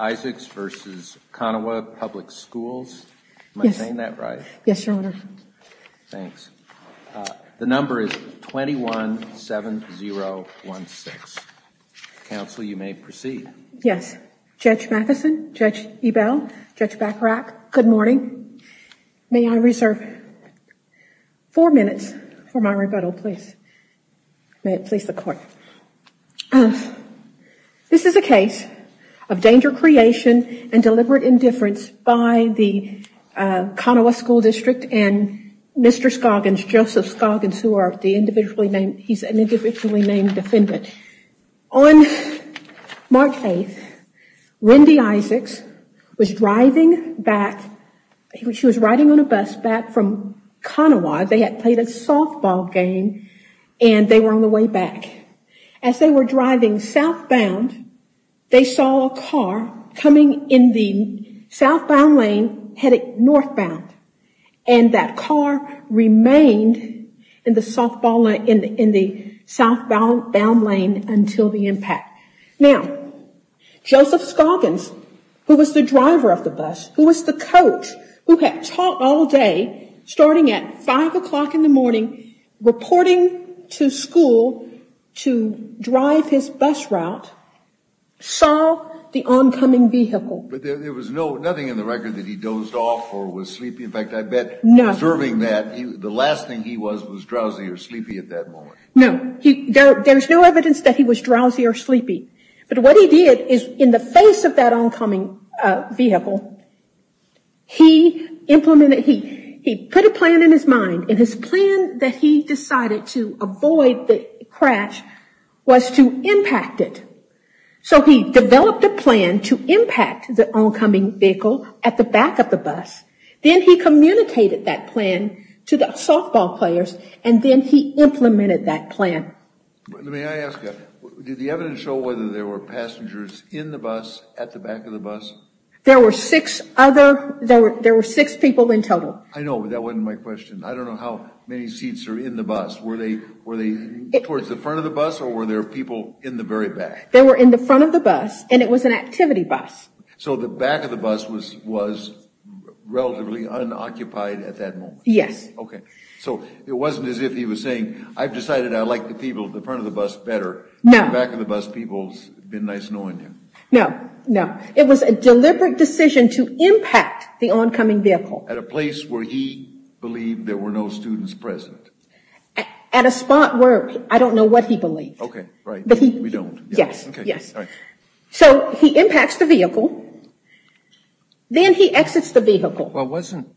Isaacs v. Konawa Public Schools v. Ebel, Judge Bacarach, Good morning. May I reserve four minutes for my rebuttal, please? May it please the court. This is a case of danger creation and deliberate indifference by the Konawa School District and Mr. Scoggins, Joseph Scoggins, who are the individually named, he's an individually named defendant. On March 8th, Wendy Isaacs was driving back, she was riding on a bus back from Konawa. They had played a softball game and they were on the way back. As they were driving southbound, they saw a car coming in the southbound lane headed northbound and that car remained in the southbound lane until the impact. Now, Joseph Scoggins, who was the driver of the bus, who was the coach, who had taught all day, starting at 5 o'clock in the morning, reporting to school to drive his bus route, saw the oncoming vehicle. But there was nothing in the record that he dozed off or was sleepy. In fact, I bet observing that, the last thing he was was drowsy or sleepy at that moment. No, there's no evidence that he was drowsy or sleepy. But what he did is in the face of that oncoming vehicle, he implemented, he put a plan in his mind and his plan that he decided to avoid the crash was to impact it. So he developed a plan to impact the oncoming vehicle at the back of the bus. Then he communicated that plan to the softball players and then he implemented that plan. May I ask you, did the evidence show whether there were passengers in the bus, at the back of the bus? There were six other, there were six people in total. I know, but that wasn't my question. I don't know how many seats are in the bus. Were they towards the front of the bus or were there people in the very back? They were in the front of the bus and it was an activity bus. So the back of the bus was relatively unoccupied at that moment? Yes. Okay, so it wasn't as if he was saying, I've decided I like the people at the front of the bus better. No. In the back of the bus, people's been nice knowing him. No, no. It was a deliberate decision to impact the oncoming vehicle. At a place where he believed there were no students present. At a spot where, I don't know what he believed. Okay, right, we don't. Yes, yes. Okay, all right. So he impacts the vehicle, then he exits the vehicle. Well wasn't,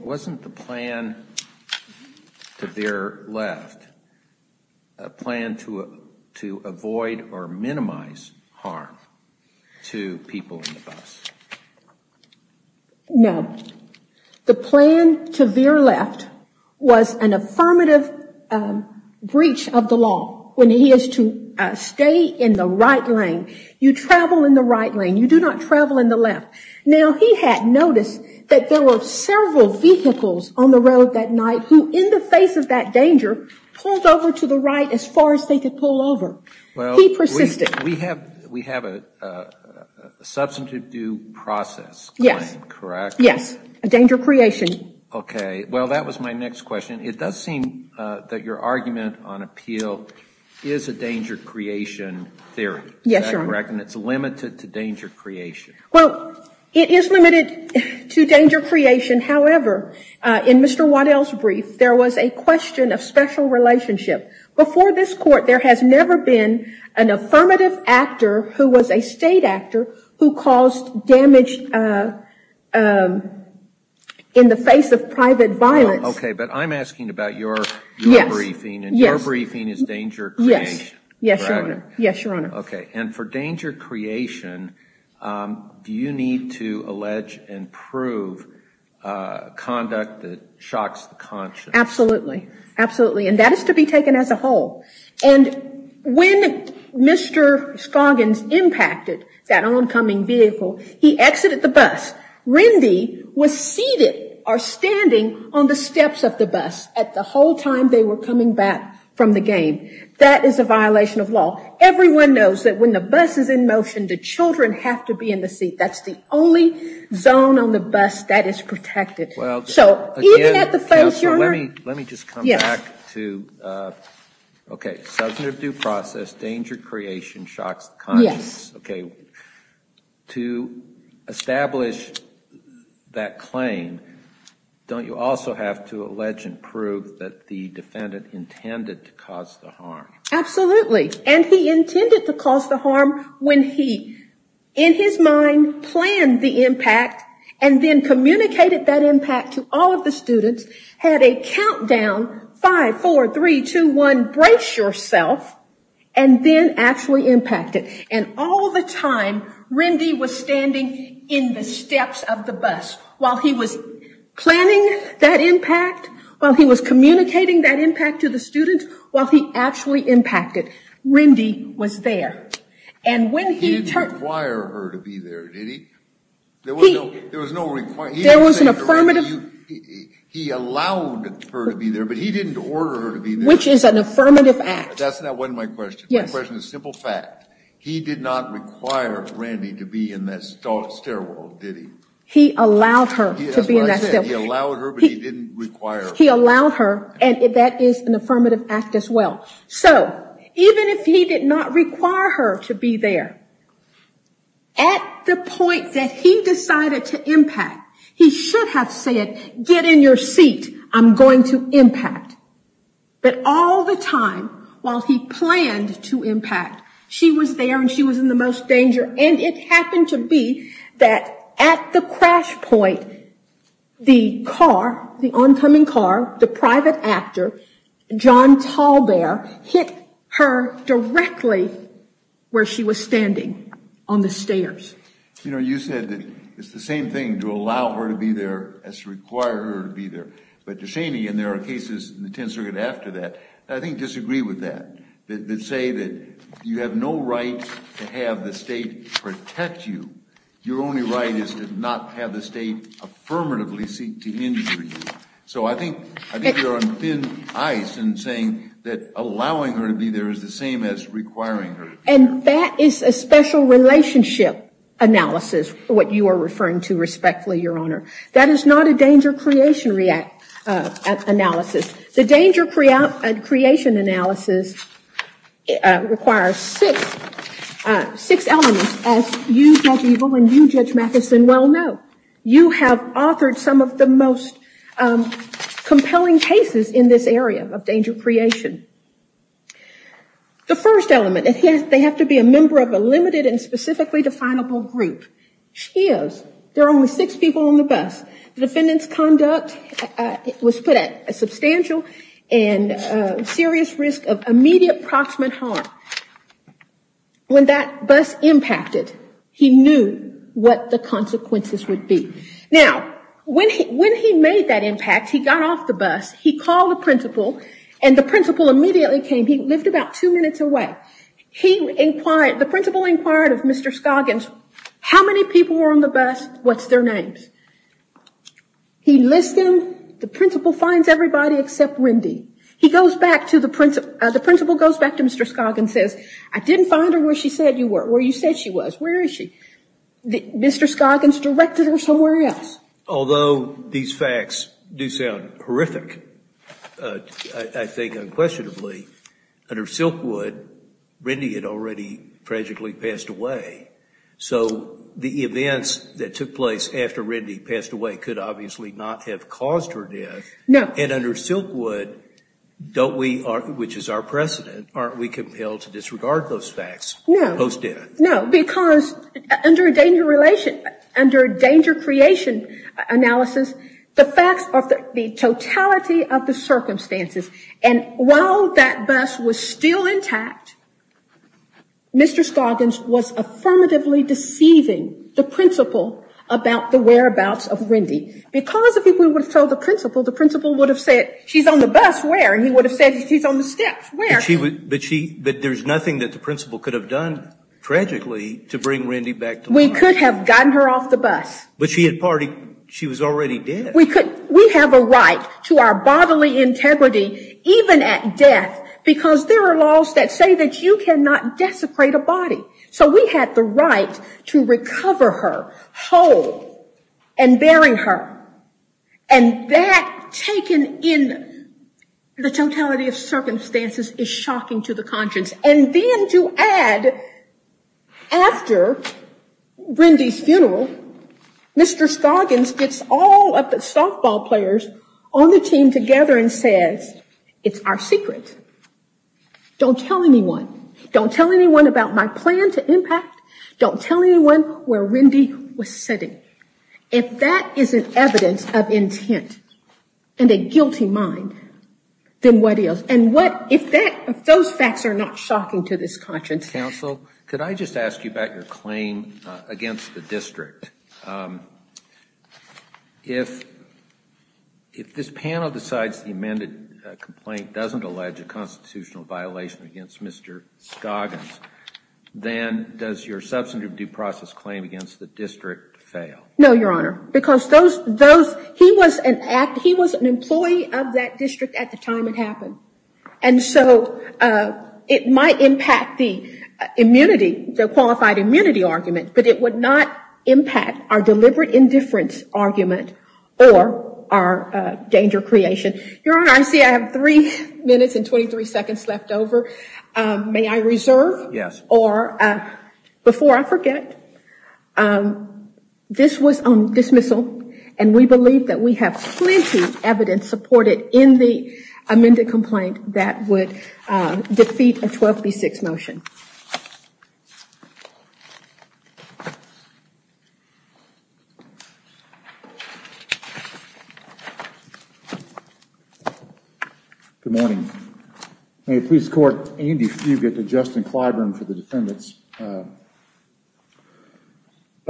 wasn't the plan to their left a plan to avoid or minimize harm to people in the bus? No. The plan to their left was an affirmative breach of the law. When he is to stay in the right lane. You travel in the right lane, you do not travel in the left. Now he had noticed that there were several vehicles on the road that night who in the face of that danger, pulled over to the right as far as they could pull over. He persisted. We have, we have a substantive due process. Yes. Correct? Yes, a danger creation. Okay, well that was my next question. It does seem that your argument on appeal is a danger creation theory. Yes, sir. Is that correct? And it's limited to danger creation. Well, it is limited to danger creation. However, in Mr. Waddell's brief, there was a question of special relationship. Before this court, there has never been an affirmative actor who was a state actor who caused damage in the face of private violence. Okay, but I'm asking about your briefing. Yes. And your briefing is danger creation. Yes. Yes, Your Honor. Yes, Your Honor. Okay, and for danger creation, do you need to allege and prove conduct that shocks the conscience? Absolutely. Absolutely. And that is to be taken as a whole. And when Mr. Scoggins impacted that oncoming vehicle, he exited the bus. Rendy was seated or standing on the steps of the bus at the whole time they were coming back from the game. That is a violation of law. Everyone knows that when the bus is in motion, the children have to be in the seat. That's the only zone on the bus that is protected. Well, again, Counsel, let me just come back to, okay, substantive due process, danger creation shocks the conscience. Yes. Okay, to establish that claim, don't you also have to allege and prove that the defendant intended to cause the harm? had a countdown, five, four, three, two, one, brace yourself, and then actually impacted. And all the time, Rendy was standing in the steps of the bus while he was planning that impact, while he was communicating that impact to the student, while he actually impacted. Rendy was there. He didn't require her to be there, did he? There was no requirement. He allowed her to be there, but he didn't order her to be there. Which is an affirmative act. That wasn't my question. My question is simple fact. He did not require Rendy to be in that stairwell, did he? He allowed her to be in that stairwell. He allowed her, but he didn't require her. He allowed her, and that is an affirmative act as well. So, even if he did not require her to be there, at the point that he decided to impact, he should have said, get in your seat, I'm going to impact. But all the time, while he planned to impact, she was there and she was in the most danger. And it happened to be that at the crash point, the car, the oncoming car, the private actor, John TallBear, hit her directly where she was standing, on the stairs. You know, you said that it's the same thing to allow her to be there as to require her to be there. But Deshaney, and there are cases in the 10th Circuit after that, I think disagree with that. They say that you have no right to have the state protect you. Your only right is to not have the state affirmatively seek to injure you. So I think you're on thin ice in saying that allowing her to be there is the same as requiring her to be there. And that is a special relationship analysis, what you are referring to respectfully, Your Honor. That is not a danger creation analysis. The danger creation analysis requires six elements, as you, Judge Eagle, and you, Judge Mathison, well know. You have authored some of the most compelling cases in this area of danger creation. The first element, they have to be a member of a limited and specifically definable group. The defendant's conduct was put at a substantial and serious risk of immediate proximate harm. When that bus impacted, he knew what the consequences would be. Now, when he made that impact, he got off the bus, he called the principal, and the principal immediately came. He lived about two minutes away. The principal inquired of Mr. Scoggins, how many people were on the bus, what's their names? He listened. The principal finds everybody except Wendy. The principal goes back to Mr. Scoggins and says, I didn't find her where you said she was. Where is she? Mr. Scoggins directed her somewhere else. Although these facts do sound horrific, I think unquestionably, under Silkwood, Wendy had already tragically passed away. So the events that took place after Wendy passed away could obviously not have caused her death. And under Silkwood, which is our precedent, aren't we compelled to disregard those facts post death? No, because under a danger relation, under a danger creation analysis, the facts of the totality of the circumstances, and while that bus was still intact, Mr. Scoggins was affirmatively deceiving the principal about the whereabouts of Wendy. Because if he would have told the principal, the principal would have said, she's on the bus, where? And he would have said, she's on the steps, where? But there's nothing that the principal could have done, tragically, to bring Wendy back to life. We could have gotten her off the bus. But she was already dead. We have a right to our bodily integrity, even at death, because there are laws that say that you cannot desecrate a body. So we had the right to recover her whole and bury her. And that taken in the totality of circumstances is shocking to the conscience. And then to add, after Wendy's funeral, Mr. Scoggins gets all of the softball players on the team together and says, it's our secret. Don't tell anyone. Don't tell anyone about my plan to impact. Don't tell anyone where Wendy was sitting. If that is an evidence of intent and a guilty mind, then what is? And what, if that, if those facts are not shocking to this conscience. Counsel, could I just ask you about your claim against the district? If this panel decides the amended complaint doesn't allege a constitutional violation against Mr. Scoggins, then does your substantive due process claim against the district fail? No, Your Honor. Because those, those, he was an act, he was an employee of that district at the time it happened. And so it might impact the immunity, the qualified immunity argument, but it would not impact our deliberate indifference argument or our danger creation. Your Honor, I see I have three minutes and 23 seconds left over. May I reserve? Yes. Or, before I forget, this was on dismissal, and we believe that we have plenty of evidence supported in the amended complaint that would defeat a 12B6 motion. Good morning. May it please the Court, Andy Fugate to Justin Clyburn for the defendants. I'd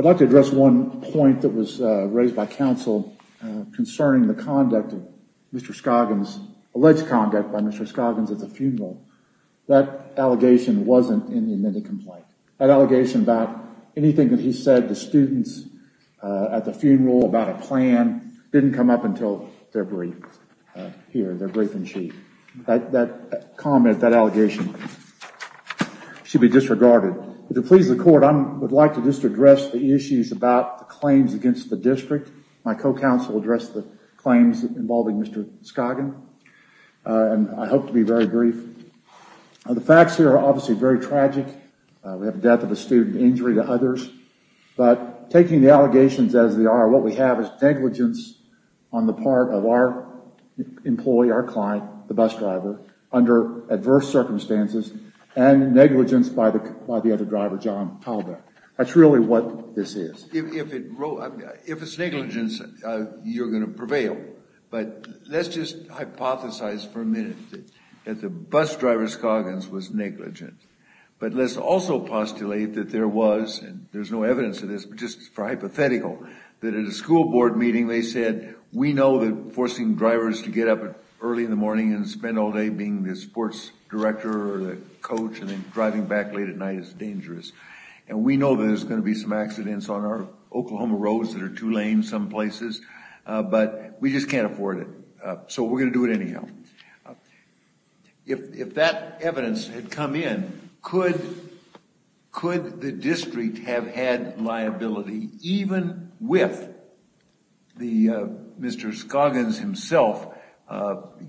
like to address one point that was raised by counsel concerning the conduct of Mr. Scoggins, alleged conduct by Mr. Scoggins at the funeral. That allegation wasn't in the amended complaint. That allegation about anything that he said to students at the funeral about a plan didn't come up until February here, their briefing sheet. That comment, that allegation should be disregarded. If it pleases the Court, I would like to just address the issues about the claims against the district. My co-counsel addressed the claims involving Mr. Scoggins, and I hope to be very brief. The facts here are obviously very tragic. We have death of a student, injury to others. But taking the allegations as they are, what we have is negligence on the part of our employee, our client, the bus driver, under adverse circumstances, and negligence by the other driver, John Talbot. That's really what this is. If it's negligence, you're going to prevail. But let's just hypothesize for a minute that the bus driver, Scoggins, was negligent. But let's also postulate that there was, and there's no evidence of this, but just for hypothetical, that at a school board meeting they said, we know that forcing drivers to get up early in the morning and spend all day being the sports director or the coach and then driving back late at night is dangerous. And we know there's going to be some accidents on our Oklahoma roads that are two lanes some places, but we just can't afford it. So we're going to do it anyhow. If that evidence had come in, could the district have had liability even with Mr. Scoggins himself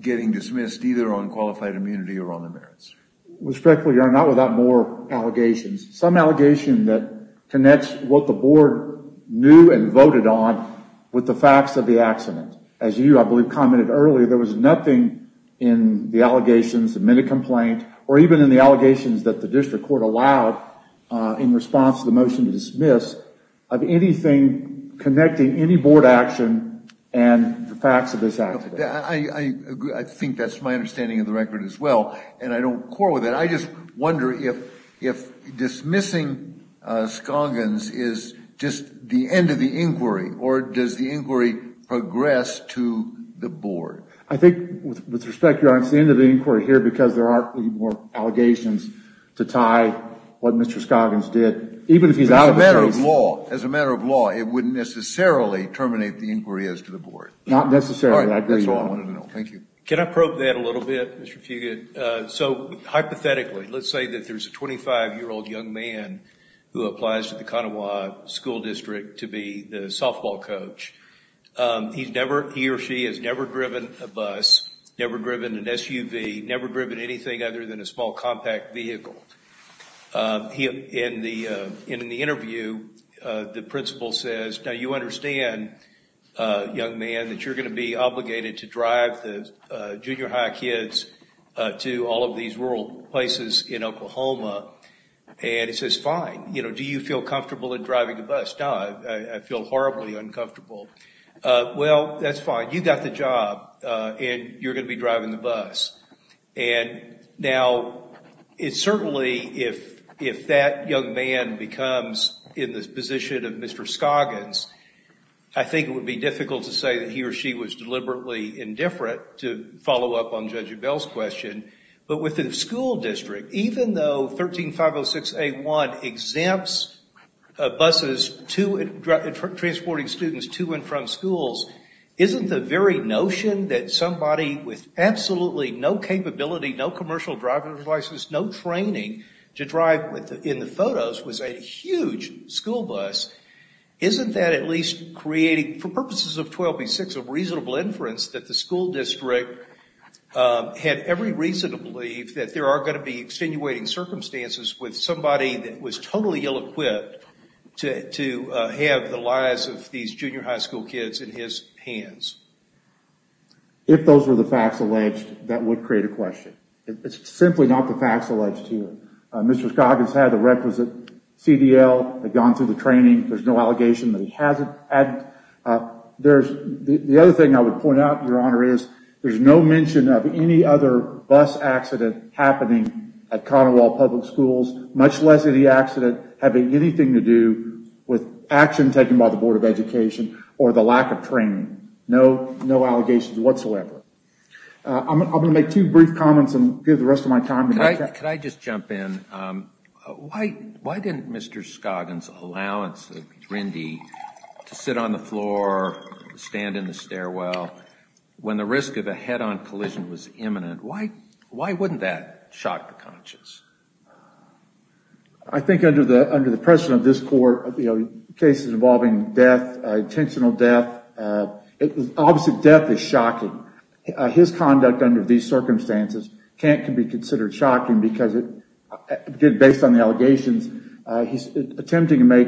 getting dismissed either on qualified immunity or on the merits? Respectfully, Your Honor, not without more allegations. Some allegation that connects what the board knew and voted on with the facts of the accident. As you, I believe, commented earlier, there was nothing in the allegations, the minute complaint, or even in the allegations that the district court allowed in response to the motion to dismiss, of anything connecting any board action and the facts of this accident. I think that's my understanding of the record as well, and I don't quarrel with that. I just wonder if dismissing Scoggins is just the end of the inquiry, or does the inquiry progress to the board? I think, with respect, Your Honor, it's the end of the inquiry here because there aren't any more allegations to tie what Mr. Scoggins did, even if he's out of the case. As a matter of law, it wouldn't necessarily terminate the inquiry as to the board. Not necessarily, I agree, Your Honor. Can I probe that a little bit, Mr. Fugate? So, hypothetically, let's say that there's a 25-year-old young man who applies to the Konawa School District to be the softball coach. He or she has never driven a bus, never driven an SUV, never driven anything other than a small compact vehicle. In the interview, the principal says, Now, you understand, young man, that you're going to be obligated to drive the junior high kids to all of these rural places in Oklahoma. And he says, fine. Do you feel comfortable in driving a bus? No, I feel horribly uncomfortable. Well, that's fine. You've got the job, and you're going to be driving the bus. And now, it's certainly, if that young man becomes in the position of Mr. Scoggins, I think it would be difficult to say that he or she was deliberately indifferent to follow up on Judge Abell's question. But with the school district, even though 13-506-A1 exempts buses transporting students to and from schools, isn't the very notion that somebody with absolutely no capability, no commercial driving devices, no training to drive in the photos was a huge school bus, isn't that at least creating, for purposes of 1286, a reasonable inference that the school district had every reason to believe that there are going to be extenuating circumstances with somebody that was totally ill-equipped to have the lives of these junior high school kids in his hands? If those were the facts alleged, that would create a question. It's simply not the facts alleged here. Mr. Scoggins had the requisite CDL, had gone through the training. There's no allegation that he hasn't. The other thing I would point out, Your Honor, is there's no mention of any other bus accident happening at Cottonwall Public Schools, much less of the accident having anything to do with action taken by the Board of Education or the lack of training. No allegations whatsoever. I'm going to make two brief comments and give the rest of my time. Could I just jump in? Why didn't Mr. Scoggins' allowance of Rindy to sit on the floor, stand in the stairwell, when the risk of a head-on collision was imminent, why wouldn't that shock the conscience? I think under the pressure of this Court, cases involving death, intentional death, obviously death is shocking. His conduct under these circumstances can't be considered shocking because, based on the allegations, he's attempting to make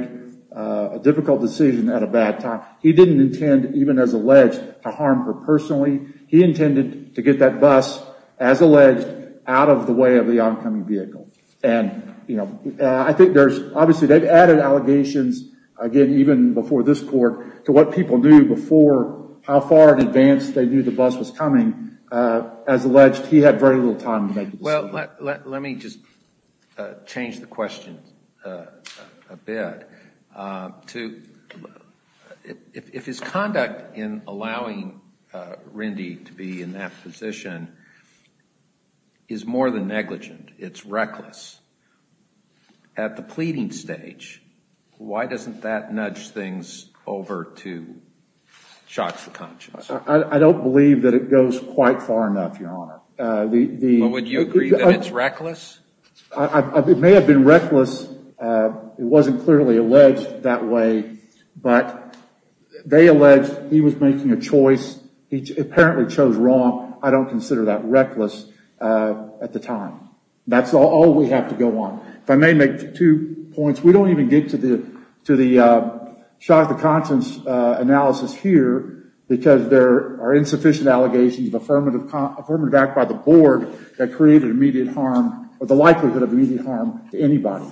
a difficult decision at a bad time. He didn't intend, even as alleged, to harm her personally. He intended to get that bus, as alleged, out of the way of the oncoming vehicle. And, you know, I think there's, obviously, they've added allegations, again, even before this Court, to what people knew before how far in advance they knew the bus was coming. As alleged, he had very little time to make a decision. Well, let me just change the question a bit. If his conduct in allowing Rindy to be in that position is more than negligent, it's reckless, at the pleading stage, why doesn't that nudge things over to shock the conscience? I don't believe that it goes quite far enough, Your Honor. Well, would you agree that it's reckless? It may have been reckless. It wasn't clearly alleged that way. But they alleged he was making a choice. He apparently chose wrong. I don't consider that reckless at the time. That's all we have to go on. If I may make two points, we don't even get to the shock the conscience analysis here because there are insufficient allegations of affirmative act by the Board that created immediate harm, or the likelihood of immediate harm to anybody.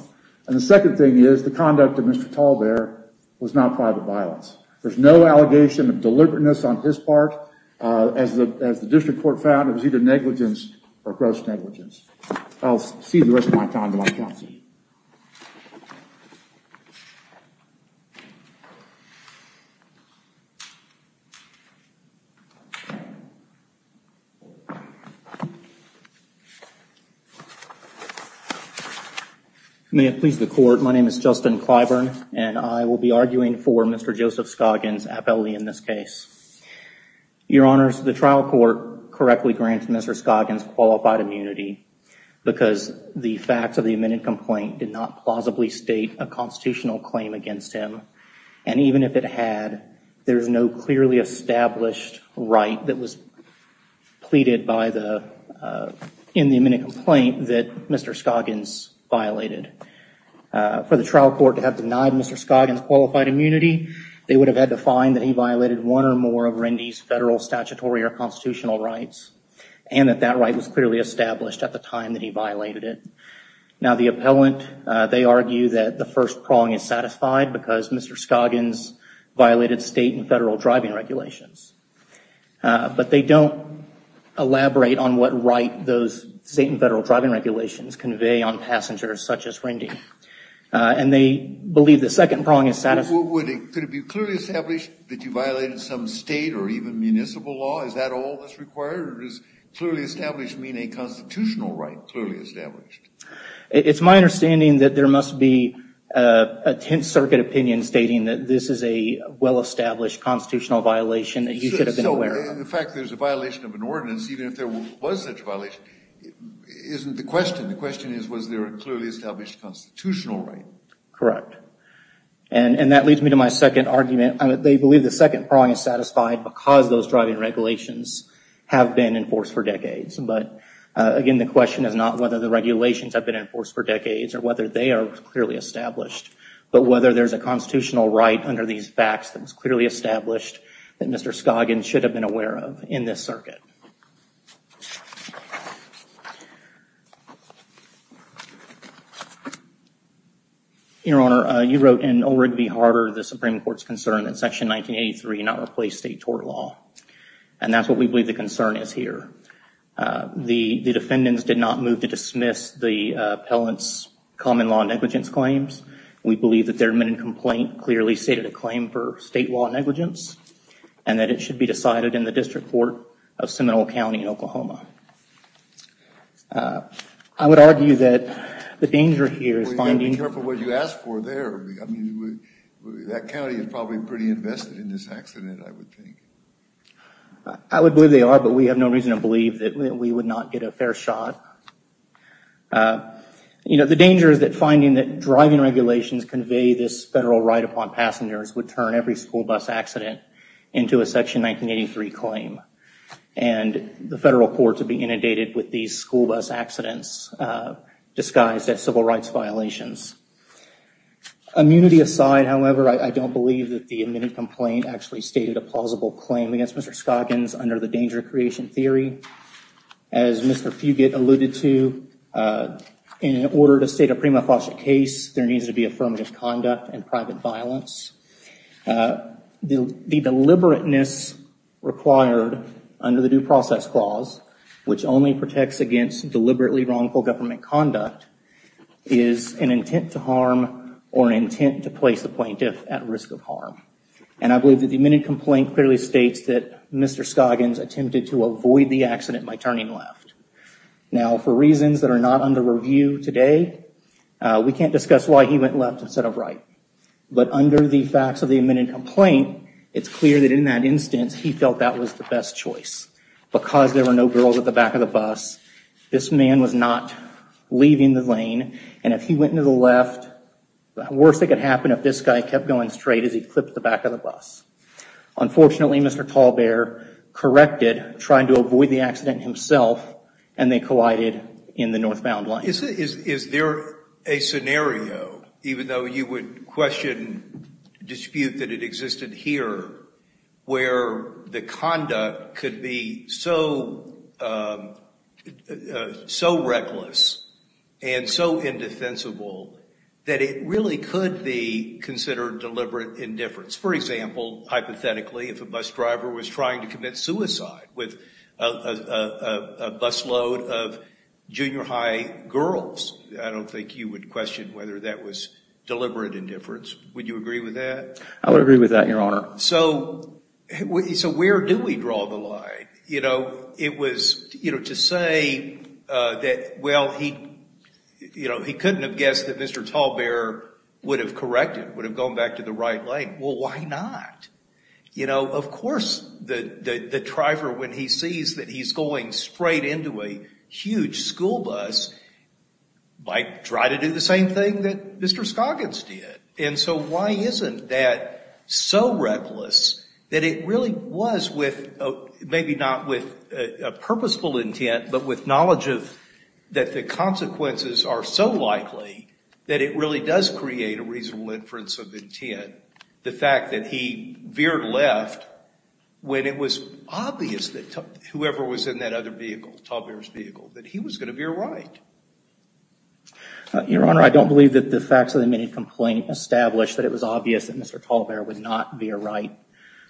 And the second thing is the conduct of Mr. TallBear was not private violence. There's no allegation of deliberateness on his part. As the District Court found, it was either negligence or gross negligence. I'll cede the rest of my time to my counsel. Thank you. May it please the Court, my name is Justin Clyburn, and I will be arguing for Mr. Joseph Scoggins' appellate in this case. Your Honors, the trial court correctly grants Mr. Scoggins qualified immunity because the facts of the amended complaint did not plausibly state a constitutional claim against him. And even if it had, there's no clearly established right that was pleaded in the amended complaint that Mr. Scoggins violated. For the trial court to have denied Mr. Scoggins qualified immunity, they would have had to find that he violated one or more of Rendy's federal statutory or constitutional rights, and that that right was clearly established at the time that he violated it. Now the appellant, they argue that the first prong is satisfied because Mr. Scoggins violated state and federal driving regulations. But they don't elaborate on what right those state and federal driving regulations convey on passengers such as Rendy. And they believe the second prong is satisfied. Could it be clearly established that you violated some state or even municipal law? Is that all that's required, or does clearly established mean a constitutional right, clearly established? It's my understanding that there must be a Tenth Circuit opinion stating that this is a well-established constitutional violation that you should have been aware of. So the fact that there's a violation of an ordinance, even if there was such a violation, isn't the question. The question is, was there a clearly established constitutional right? Correct. And that leads me to my second argument. They believe the second prong is satisfied because those driving regulations have been in force for decades. But, again, the question is not whether the regulations have been in force for decades or whether they are clearly established, but whether there's a constitutional right under these facts that was clearly established that Mr. Scoggins should have been aware of in this circuit. Your Honor, you wrote in Olrid v. Harder, the Supreme Court's concern that Section 1983 not replace state tort law. And that's what we believe the concern is here. The defendants did not move to dismiss the appellant's common law negligence claims. We believe that their written complaint clearly stated a claim for state law negligence and that it should be decided in the District Court of Seminole County in Oklahoma. I would argue that the danger here is finding... Well, you've got to be careful what you ask for there. That county is probably pretty invested in this accident, I would think. I would believe they are, but we have no reason to believe that we would not get a fair shot. The danger is that finding that driving regulations convey this federal right upon passengers would turn every school bus accident into a Section 1983 claim. And the federal courts would be inundated with these school bus accidents disguised as civil rights violations. Immunity aside, however, I don't believe that the admitted complaint actually stated a plausible claim against Mr. Scoggins under the danger creation theory. As Mr. Fugate alluded to, in order to state a prima facie case, there needs to be affirmative conduct and private violence. The deliberateness required under the Due Process Clause, which only protects against deliberately wrongful government conduct, is an intent to harm or an intent to place the plaintiff at risk of harm. And I believe that the admitted complaint clearly states that Mr. Scoggins attempted to avoid the accident by turning left. Now, for reasons that are not under review today, we can't discuss why he went left instead of right. But under the facts of the admitted complaint, it's clear that in that instance, he felt that was the best choice because there were no girls at the back of the bus, this man was not leaving the lane, and if he went to the left, the worst that could happen if this guy kept going straight is he'd clip the back of the bus. Unfortunately, Mr. TallBear corrected, trying to avoid the accident himself, and they collided in the northbound lane. Is there a scenario, even though you would question dispute that it existed here, where the conduct could be so reckless and so indefensible that it really could be considered deliberate indifference? For example, hypothetically, if a bus driver was trying to commit suicide with a busload of junior high girls, I don't think you would question whether that was deliberate indifference. Would you agree with that? I would agree with that, Your Honor. So where do we draw the line? It was to say that, well, he couldn't have guessed that Mr. TallBear would have corrected, would have gone back to the right lane. Well, why not? Of course the driver, when he sees that he's going straight into a huge school bus, might try to do the same thing that Mr. Scoggins did. And so why isn't that so reckless, that it really was with, maybe not with a purposeful intent, but with knowledge that the consequences are so likely, that it really does create a reasonable inference of intent, the fact that he veered left when it was obvious that whoever was in that other vehicle, TallBear's vehicle, that he was going to veer right? Your Honor, I don't believe that the facts of the admitted complaint establish that it was obvious that Mr. TallBear would not veer right.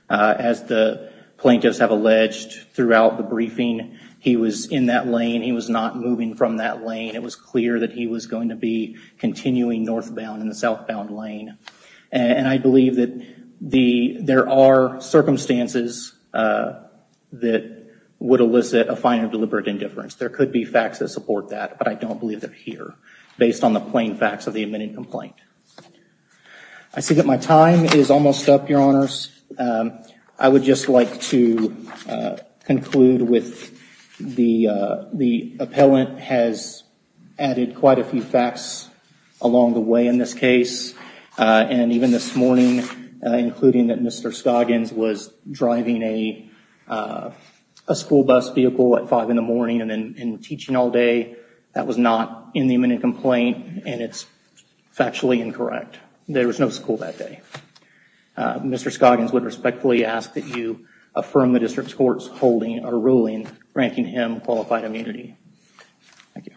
As the plaintiffs have alleged throughout the briefing, he was in that lane. He was not moving from that lane. It was clear that he was going to be continuing northbound in the southbound lane. And I believe that there are circumstances that would elicit a fine of deliberate indifference. There could be facts that support that, but I don't believe they're here based on the plain facts of the admitted complaint. I see that my time is almost up, Your Honors. I would just like to conclude with the appellant has added quite a few facts along the way in this case. And even this morning, including that Mr. Scoggins was driving a school bus vehicle at five in the morning and teaching all day, that was not in the admitted complaint and it's factually incorrect. There was no school that day. Mr. Scoggins would respectfully ask that you affirm the district court's holding or ruling ranking him qualified immunity. Thank you.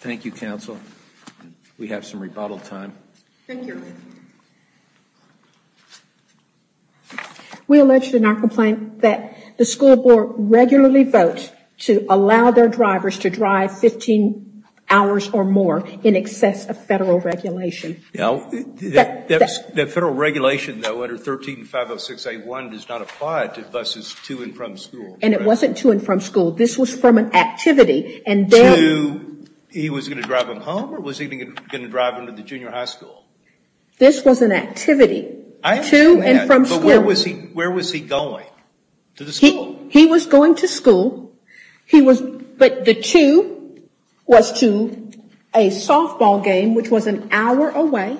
Thank you, Counsel. We have some rebuttal time. Thank you. We alleged in our complaint that the school board regularly votes to allow their drivers to drive 15 hours or more in excess of federal regulation. Now, the federal regulation, though, under 13-506-A1 does not apply to buses to and from school. And it wasn't to and from school. This was from an activity. To? He was going to drive them home or was he going to drive them to the junior high school? This was an activity to and from school. But where was he going to the school? He was going to school. But the to was to a softball game, which was an hour away.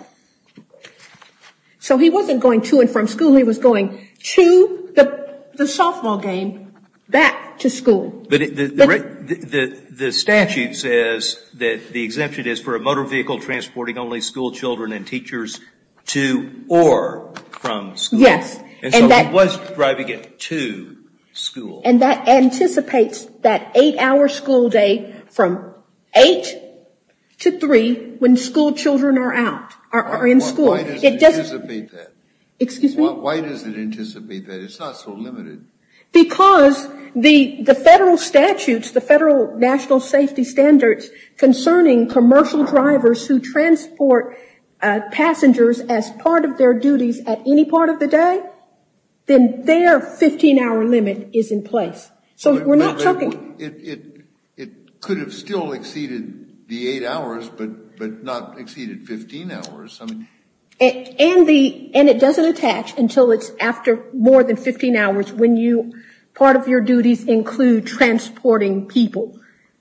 So he wasn't going to and from school. He was going to the softball game, back to school. But the statute says that the exemption is for a motor vehicle transporting only school children and teachers to or from school. Yes. And so he was driving it to school. And that anticipates that eight-hour school day from eight to three when school children are out, are in school. Why does it anticipate that? Excuse me? Why does it anticipate that? It's not so limited. Because the federal statutes, the federal national safety standards concerning commercial drivers who transport passengers as part of their duties at any part of the day, then their 15-hour limit is in place. So we're not talking. It could have still exceeded the eight hours, but not exceeded 15 hours. And it doesn't attach until it's after more than 15 hours when part of your duties include transporting people.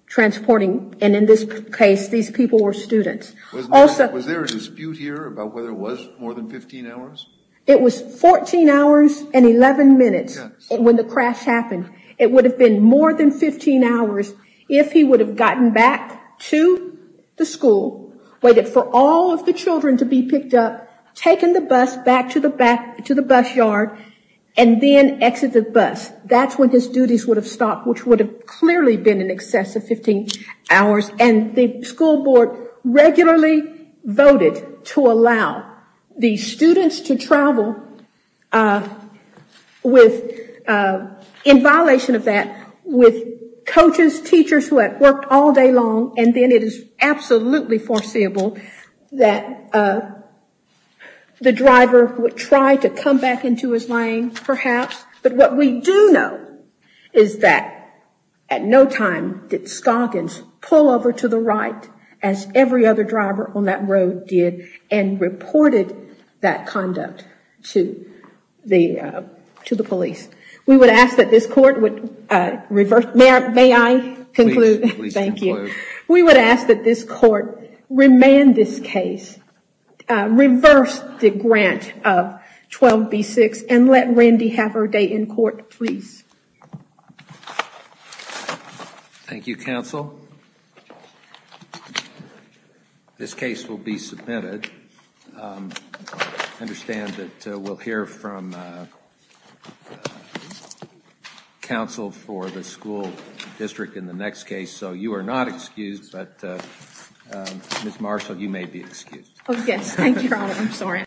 Transporting, and in this case, these people were students. Was there a dispute here about whether it was more than 15 hours? It was 14 hours and 11 minutes when the crash happened. It would have been more than 15 hours if he would have gotten back to the school, waited for all of the children to be picked up, taken the bus back to the bus yard, and then exited the bus. That's when his duties would have stopped, which would have clearly been in excess of 15 hours. And the school board regularly voted to allow the students to travel with, in violation of that, with coaches, teachers who had worked all day long, and then it is absolutely foreseeable that the driver would try to come back into his lane, perhaps. But what we do know is that at no time did Stoggins pull over to the right, as every other driver on that road did, and reported that conduct to the police. We would ask that this court would reverse, may I conclude? Please conclude. Thank you. We would ask that this court remand this case, reverse the grant of 12B6, and let Randy have her day in court, please. Thank you, counsel. This case will be submitted. I understand that we'll hear from counsel for the school district in the next case, so you are not excused. Ms. Marshall, you may be excused. Oh, yes. Thank you, Your Honor. I'm sorry.